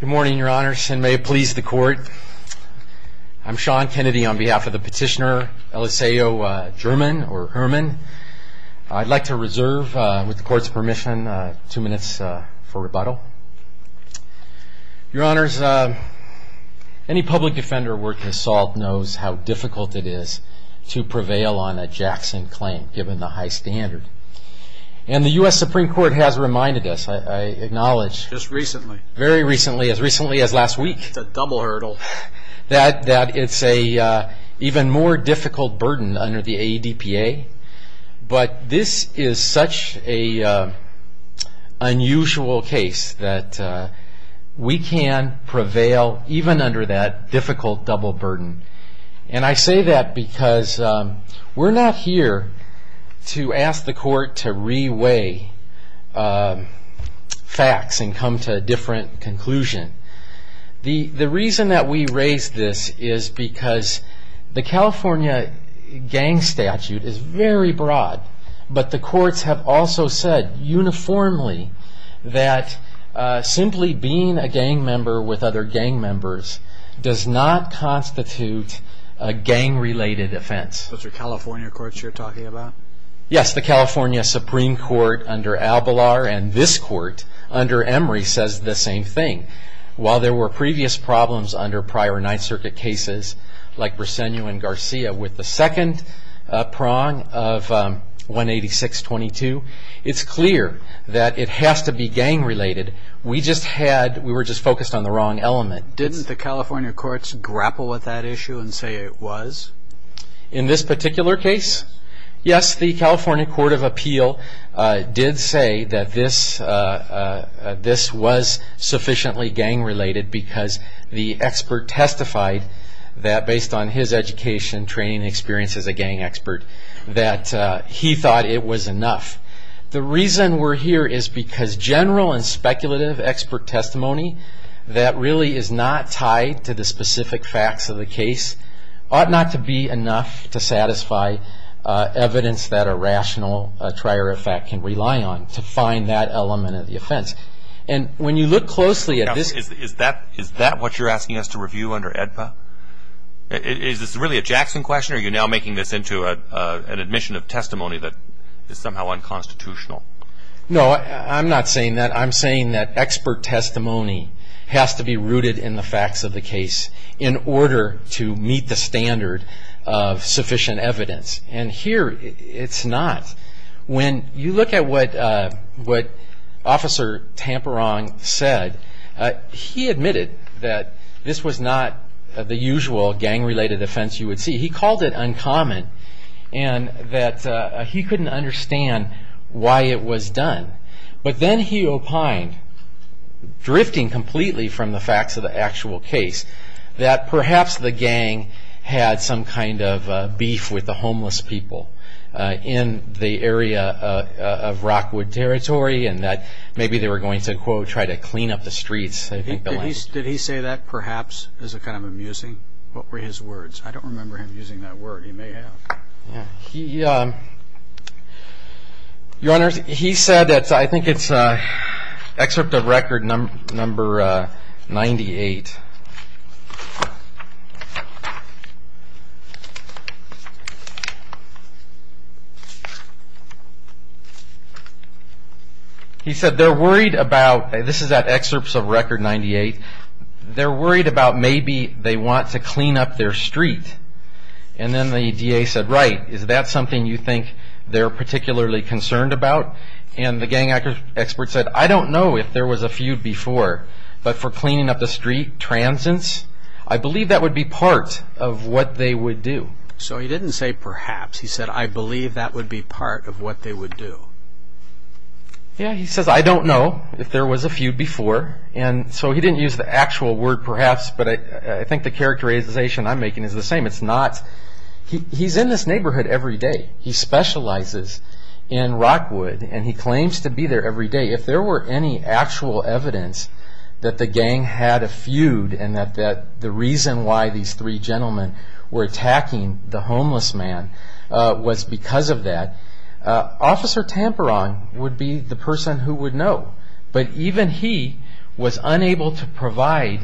Good morning, your honors, and may it please the court. I'm Sean Kennedy on behalf of the petitioner Eliseo German, or Herman. I'd like to reserve, with the court's permission, two minutes for rebuttal. Your honors, any public defender working assault knows how difficult it is to prevail on a Jackson claim, given the high standard. And the U.S. Supreme Court has reminded us, I acknowledge, very recently, as recently as last week, that it's an even more difficult burden under the AEDPA. But this is such an unusual case that we can prevail even under that difficult double burden. And I say that because we're not here to ask the court to re-weigh facts and come to a different conclusion. The reason that we raise this is because the California gang statute is very broad, but the courts have also said, uniformly, that simply being a gang member with other gang members does not constitute a gang-related offense. Those are California courts you're talking about? Yes, the California Supreme Court under Abelard and this court under Emery says the same thing. While there were previous problems under prior Ninth Circuit cases, like Brisenu and Garcia, with the second prong of 186-22, it's clear that it has to be gang-related. We were just focused on the wrong element. Didn't the California courts grapple with that issue and say it was? In this particular case, yes, the California Court of Appeal did say that this was sufficiently gang-related because the expert testified that, based on his education, training, and experience as a gang expert, that he thought it was enough. The reason we're here is because general and speculative expert testimony that really is not tied to the specific facts of the case ought not to be enough to satisfy evidence that a rational trier of fact can rely on to find that element of the offense. Is that what you're asking us to review under AEDPA? Is this really a Jackson question or are you now making this into an admission of testimony that is somehow unconstitutional? No, I'm not saying that. I'm saying that expert testimony has to be rooted in the facts of the case in order to meet the standard of sufficient evidence. And here it's not. When you look at what Officer Tamperong said, he admitted that this was not the usual gang-related offense you would see. He called it uncommon and that he couldn't understand why it was done. But then he opined, drifting completely from the facts of the actual case, that perhaps the gang had some kind of beef with the homeless people in the area of Rockwood territory and that maybe they were going to, quote, try to clean up the streets. Did he say that perhaps as a kind of amusing? What were his words? I don't remember him using that word. He may have. Your Honor, he said, I think it's excerpt of record number 98. He said, they're worried about, this is that excerpt of record 98, they're worried about maybe they want to clean up their street. And then the DA said, right, is that something you think they're particularly concerned about? And the gang expert said, I don't know if there was a feud before. But for cleaning up the street, transients, I believe that would be part of what they would do. So he didn't say perhaps. He said, I believe that would be part of what they would do. Yeah, he says, I don't know if there was a feud before. And so he didn't use the actual word perhaps. But I think the characterization I'm making is the same. It's not. He's in this neighborhood every day. He specializes in Rockwood and he claims to be there every day. If there were any actual evidence that the gang had a feud and that the reason why these three gentlemen were attacking the homeless man was because of that, Officer Tamperon would be the person who would know. But even he was unable to provide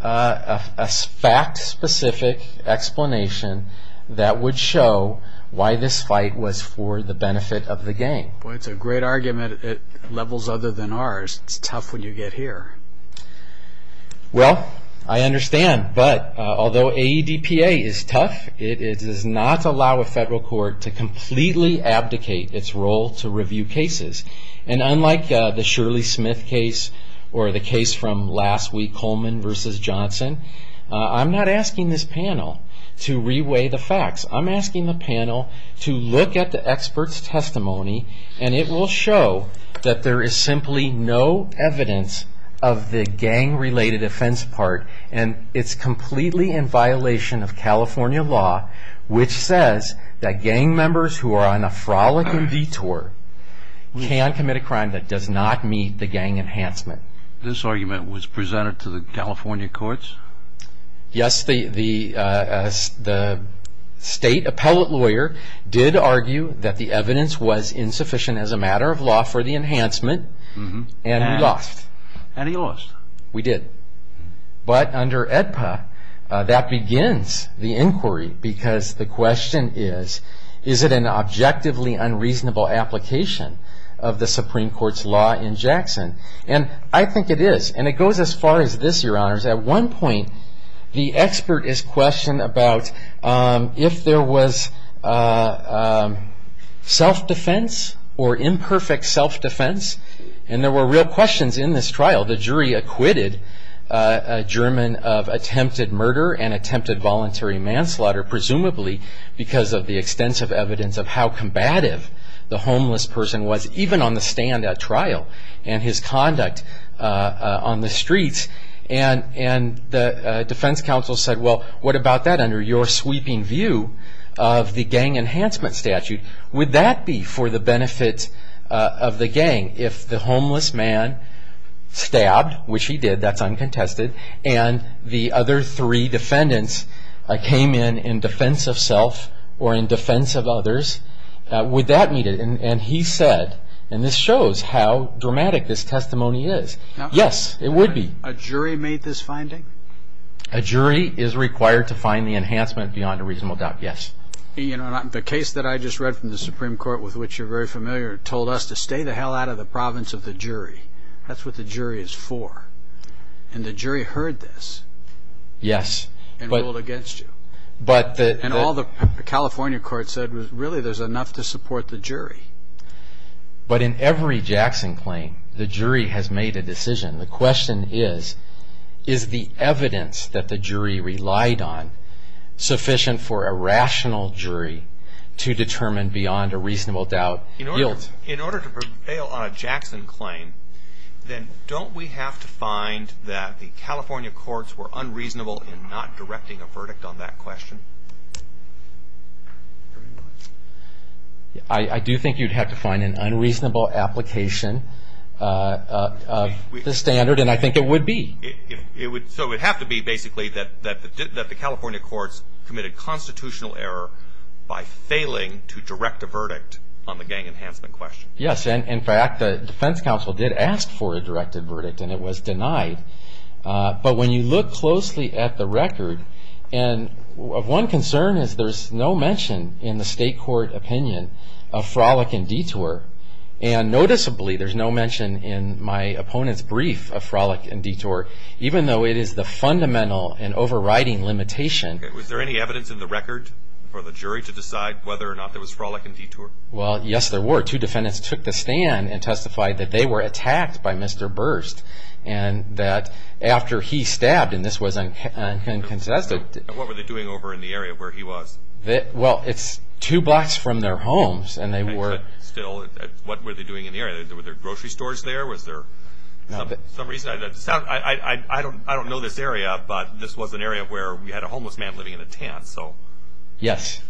a fact specific explanation that would show why this fight was for the benefit of the gang. Boy, it's a great argument at levels other than ours. It's tough when you get here. Well, I understand. But although AEDPA is tough, it does not allow a federal court to completely abdicate its role to review cases. And unlike the Shirley Smith case or the case from last week, Coleman versus Johnson, I'm not asking this panel to reweigh the facts. I'm asking the panel to look at the experts' testimony and it will show that there is simply no evidence of the gang-related offense part. And it's completely in violation of California law, which says that gang members who are on a frolicking vetour can commit a crime that does not meet the gang enhancement. This argument was presented to the California courts? Yes, the state appellate lawyer did argue that the evidence was insufficient as a matter of law for the enhancement and we lost. And he lost? We did. But under AEDPA, that begins the inquiry because the question is, is it an objectively unreasonable application of the Supreme Court's law in Jackson? And I think it is. And it goes as far as this, Your Honors. At one point, the expert is questioned about if there was self-defense or imperfect self-defense. And there were real questions in this trial. The jury acquitted a German of attempted murder and attempted voluntary manslaughter, presumably because of the extensive evidence of how combative the homeless person was, even on the stand at trial and his conduct on the streets. And the defense counsel said, well, what about that under your sweeping view of the gang enhancement statute? Would that be for the benefit of the gang if the homeless man stabbed, which he did, that's uncontested, and the other three defendants came in in defense of self or in defense of others? Would that meet it? And he said, and this shows how dramatic this testimony is, yes, it would be. A jury made this finding? A jury is required to find the enhancement beyond a reasonable doubt, yes. The case that I just read from the Supreme Court, with which you're very familiar, told us to stay the hell out of the province of the jury. That's what the jury is for. And the jury heard this. Yes. And ruled against you. And all the California court said was, really, there's enough to support the jury. But in every Jackson claim, the jury has made a decision. The question is, is the evidence that the jury relied on sufficient for a rational jury to determine beyond a reasonable doubt? In order to prevail on a Jackson claim, then don't we have to find that the California courts were unreasonable in not directing a verdict on that question? I do think you'd have to find an unreasonable application of the standard, and I think it would be. So it would have to be, basically, that the California courts committed constitutional error by failing to direct a verdict on the gang enhancement question? Yes. In fact, the defense counsel did ask for a directed verdict, and it was denied. But when you look closely at the record, and of one concern is there's no mention in the state court opinion of frolic and detour. And noticeably, there's no mention in my opponent's brief of frolic and detour, even though it is the fundamental and overriding limitation. Was there any evidence in the record for the jury to decide whether or not there was frolic and detour? Well, yes, there were. Two defendants took the stand and testified that they were attacked by Mr. Burst, and that after he stabbed, and this was uncontested. And what were they doing over in the area where he was? Well, it's two blocks from their homes, and they were. Still, what were they doing in the area? Were there grocery stores there? Was there some reason? I don't know this area, but this was an area where we had a homeless man living in a tent, so. Yes.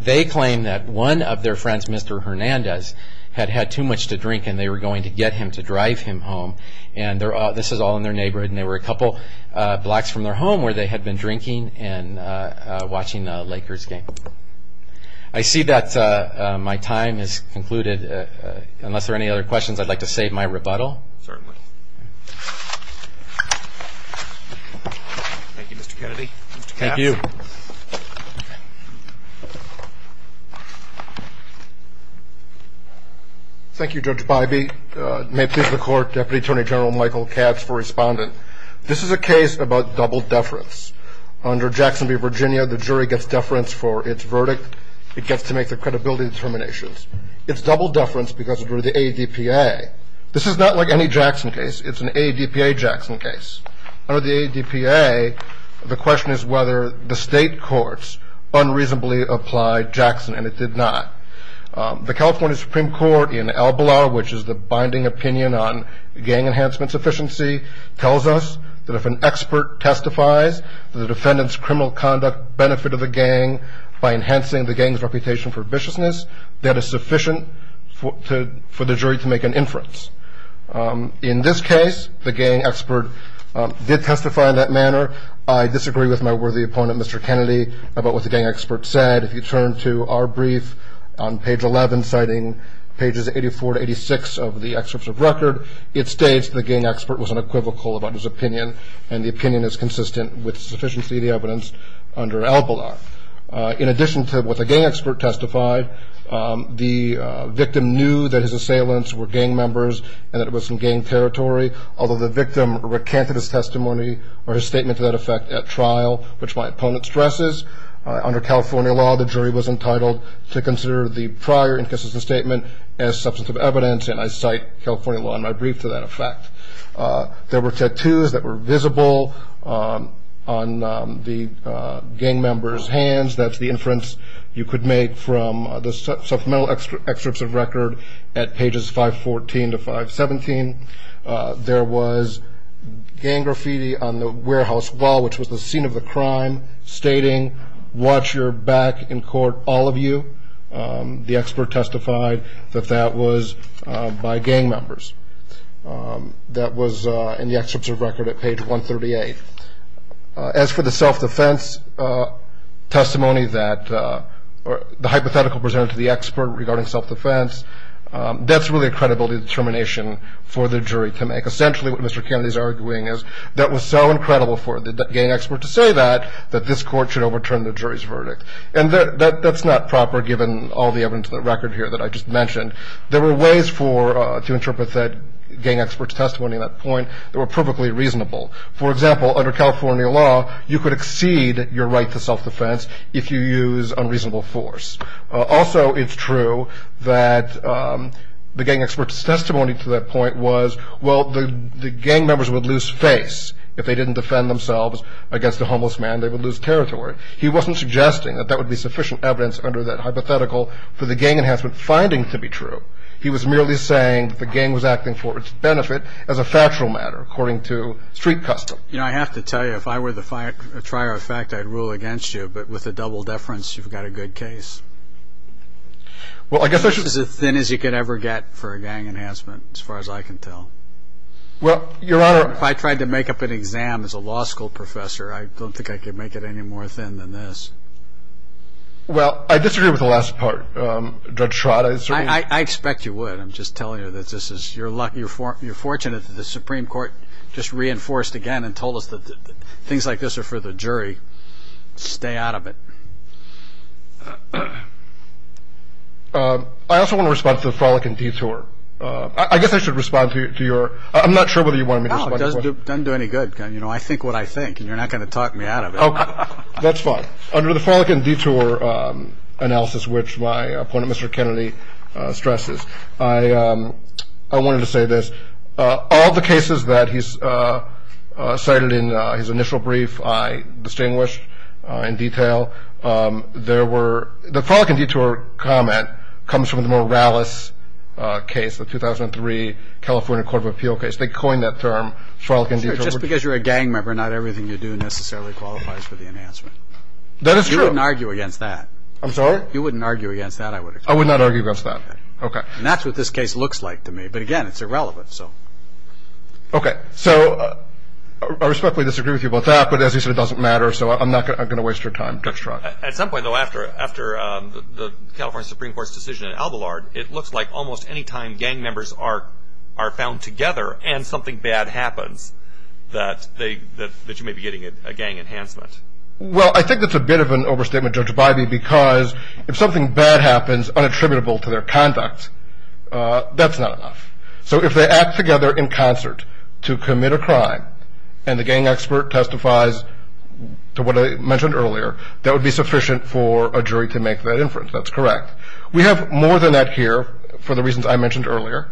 They claim that one of their friends, Mr. Hernandez, had had too much to drink, and they were going to get him to drive him home. And this is all in their neighborhood, and they were a couple blocks from their home where they had been drinking and watching the Lakers game. I see that my time has concluded. Unless there are any other questions, I'd like to save my rebuttal. Certainly. Thank you, Mr. Kennedy. Thank you. Thank you, Judge Bybee. May it please the Court, Deputy Attorney General Michael Katz for responding. This is a case about double deference. Under Jackson v. Virginia, the jury gets deference for its verdict. It gets to make the credibility determinations. It's double deference because of the ADPA. This is not like any Jackson case. It's an ADPA Jackson case. Under the ADPA, the question is whether the state courts unreasonably applied Jackson, and it did not. The California Supreme Court in Albala, which is the binding opinion on gang enhancement sufficiency, tells us that if an expert testifies to the defendant's criminal conduct benefit of the gang by enhancing the gang's reputation for viciousness, that is sufficient for the jury to make an inference. In this case, the gang expert did testify in that manner. I disagree with my worthy opponent, Mr. Kennedy, about what the gang expert said. If you turn to our brief on page 11, citing pages 84 to 86 of the excerpt of record, it states the gang expert was unequivocal about his opinion, and the opinion is consistent with sufficiency of the evidence under Albala. In addition to what the gang expert testified, the victim knew that his assailants were gang members and that it was in gang territory, although the victim recanted his testimony or his statement to that effect at trial, which my opponent stresses. Under California law, the jury was entitled to consider the prior inconsistent statement as substantive evidence, and I cite California law in my brief to that effect. There were tattoos that were visible on the gang member's hands. That's the inference you could make from the supplemental excerpts of record at pages 514 to 517. There was gang graffiti on the warehouse wall, which was the scene of the crime, stating, Watch your back in court, all of you. The expert testified that that was by gang members. That was in the excerpts of record at page 138. As for the self-defense testimony that the hypothetical presented to the expert regarding self-defense, that's really a credibility determination for the jury to make. Essentially what Mr. Kennedy is arguing is that it was so incredible for the gang expert to say that that this court should overturn the jury's verdict, and that's not proper given all the evidence in the record here that I just mentioned. There were ways to interpret that gang expert's testimony at that point that were perfectly reasonable. For example, under California law, you could exceed your right to self-defense if you use unreasonable force. Also, it's true that the gang expert's testimony to that point was, well, the gang members would lose face. If they didn't defend themselves against a homeless man, they would lose territory. He wasn't suggesting that that would be sufficient evidence under that hypothetical for the gang enhancement finding to be true. He was merely saying the gang was acting for its benefit as a factual matter, according to street custom. You know, I have to tell you, if I were the trier of fact, I'd rule against you. But with a double deference, you've got a good case. Well, I guess I should – It's as thin as you could ever get for a gang enhancement, as far as I can tell. Well, Your Honor – If I tried to make up an exam as a law school professor, I don't think I could make it any more thin than this. Well, I disagree with the last part. I expect you would. I'm just telling you that this is – you're fortunate that the Supreme Court just reinforced again and told us that things like this are for the jury. Stay out of it. I also want to respond to the frolicking detour. I guess I should respond to your – I'm not sure whether you want me to respond to your question. No, it doesn't do any good. I think what I think, and you're not going to talk me out of it. That's fine. Under the frolicking detour analysis, which my opponent, Mr. Kennedy, stresses, I wanted to say this. All the cases that he's cited in his initial brief I distinguished in detail. There were – the frolicking detour comment comes from the Morales case, the 2003 California Court of Appeal case. They coined that term, frolicking detour. Just because you're a gang member, not everything you do necessarily qualifies for the enhancement. That is true. You wouldn't argue against that. I'm sorry? You wouldn't argue against that, I would expect. I would not argue against that. Okay. And that's what this case looks like to me. But, again, it's irrelevant, so. Okay. So I respectfully disagree with you about that. But, as he said, it doesn't matter, so I'm not going to waste your time. At some point, though, after the California Supreme Court's decision in Albalard, it looks like almost any time gang members are found together and something bad happens, that you may be getting a gang enhancement. Well, I think that's a bit of an overstatement, Judge Bybee, because if something bad happens unattributable to their conduct, that's not enough. So if they act together in concert to commit a crime, and the gang expert testifies to what I mentioned earlier, that would be sufficient for a jury to make that inference. That's correct. We have more than that here for the reasons I mentioned earlier,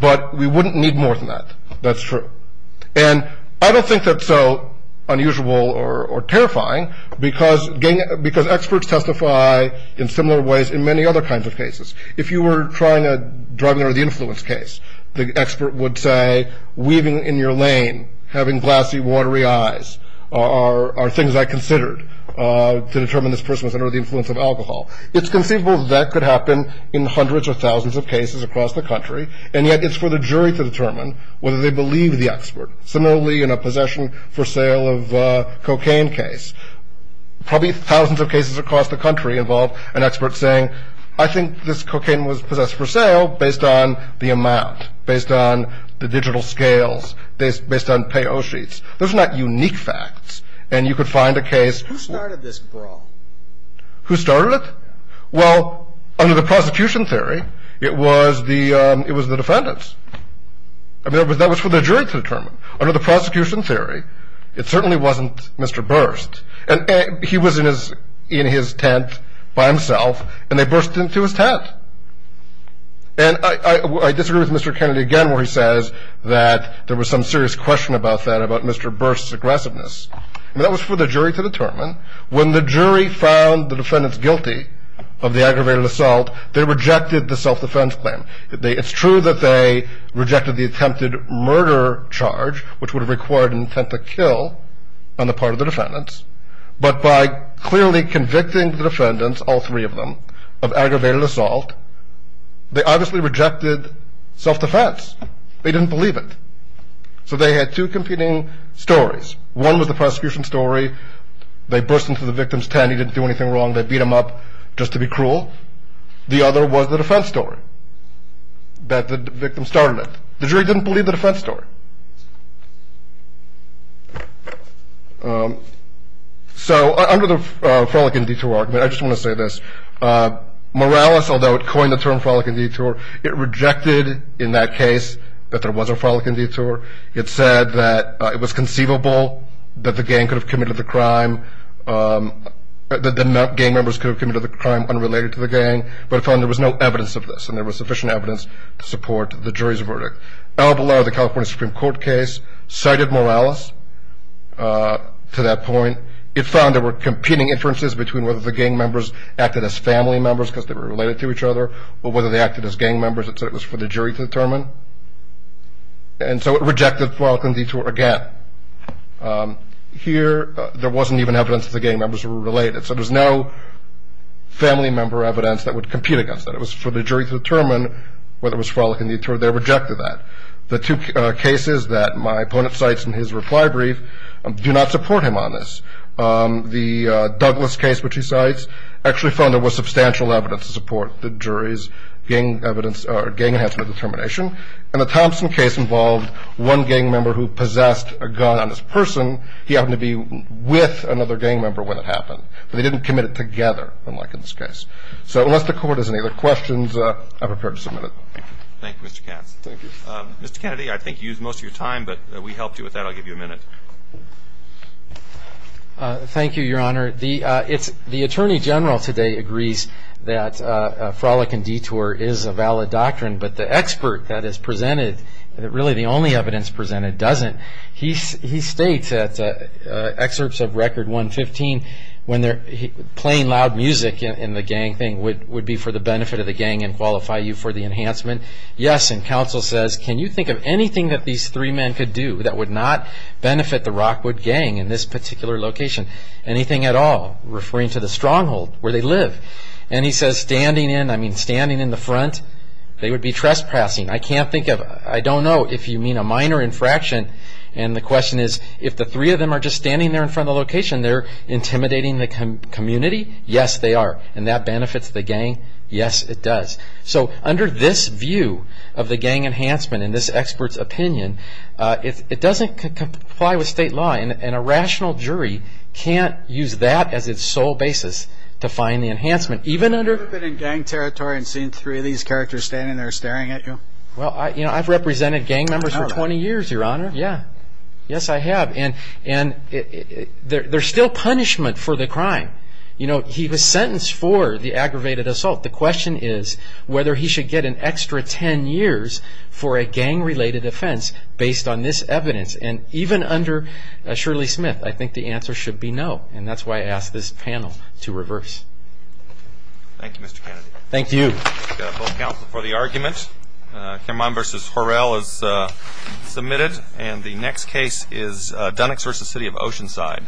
but we wouldn't need more than that. That's true. And I don't think that's so unusual or terrifying, because experts testify in similar ways in many other kinds of cases. If you were trying to drive under the influence case, the expert would say, weaving in your lane, having glassy, watery eyes are things I considered to determine this person was under the influence of alcohol. It's conceivable that that could happen in hundreds of thousands of cases across the country, and yet it's for the jury to determine whether they believe the expert. Similarly, in a possession for sale of cocaine case, probably thousands of cases across the country involve an expert saying, I think this cocaine was possessed for sale based on the amount, based on the digital scales, based on pay-o-sheets. Those are not unique facts, and you could find a case. Who started this brawl? Who started it? Well, under the prosecution theory, it was the defendants. I mean, that was for the jury to determine. Under the prosecution theory, it certainly wasn't Mr. Burst. And he was in his tent by himself, and they burst into his tent. And I disagree with Mr. Kennedy again where he says that there was some serious question about that, about Mr. Burst's aggressiveness. I mean, that was for the jury to determine. When the jury found the defendants guilty of the aggravated assault, they rejected the self-defense claim. It's true that they rejected the attempted murder charge, which would have required an attempt to kill on the part of the defendants. But by clearly convicting the defendants, all three of them, of aggravated assault, they obviously rejected self-defense. They didn't believe it. So they had two competing stories. One was the prosecution story. They burst into the victim's tent. He didn't do anything wrong. They beat him up just to be cruel. The other was the defense story that the victim started it. The jury didn't believe the defense story. So under the frolicking detour argument, I just want to say this. Morales, although it coined the term frolicking detour, it rejected in that case that there was a frolicking detour. It said that it was conceivable that the gang could have committed the crime, that the gang members could have committed the crime unrelated to the gang, but it found there was no evidence of this and there was sufficient evidence to support the jury's verdict. El Bilal, the California Supreme Court case, cited Morales to that point. It found there were competing inferences between whether the gang members acted as family members because they were related to each other or whether they acted as gang members. It said it was for the jury to determine. And so it rejected frolicking detour again. Here, there wasn't even evidence that the gang members were related, so there's no family member evidence that would compete against that. It was for the jury to determine whether it was frolicking detour. They rejected that. The two cases that my opponent cites in his reply brief do not support him on this. The Douglas case, which he cites, actually found there was substantial evidence to support the jury's gang enhancement determination, and the Thompson case involved one gang member who possessed a gun on this person. He happened to be with another gang member when it happened, but they didn't commit it together, unlike in this case. So unless the Court has any other questions, I'm prepared to submit it. Thank you, Mr. Katz. Thank you. Mr. Kennedy, I think you used most of your time, but we helped you with that. I'll give you a minute. Thank you, Your Honor. The Attorney General today agrees that frolic and detour is a valid doctrine, but the expert that is presented, really the only evidence presented, doesn't. He states that excerpts of Record 115, when they're playing loud music in the gang thing would be for the benefit of the gang and qualify you for the enhancement. Yes, and counsel says, can you think of anything that these three men could do that would not benefit the Rockwood gang in this particular location, anything at all? Referring to the stronghold where they live. And he says, standing in the front, they would be trespassing. I can't think of, I don't know if you mean a minor infraction. And the question is, if the three of them are just standing there in front of the location, they're intimidating the community? Yes, they are. And that benefits the gang? Yes, it does. So under this view of the gang enhancement, in this expert's opinion, it doesn't comply with state law, and a rational jury can't use that as its sole basis to find the enhancement. Even under... Have you ever been in gang territory and seen three of these characters standing there staring at you? Well, I've represented gang members for 20 years, Your Honor. Yes, I have. And there's still punishment for the crime. He was sentenced for the aggravated assault. The question is whether he should get an extra 10 years for a gang-related offense based on this evidence. And even under Shirley Smith, I think the answer should be no. And that's why I asked this panel to reverse. Thank you, Mr. Kennedy. Thank you. Both counsel for the argument. Cameron v. Horrell is submitted. And the next case is Dunnex v. City of Oceanside.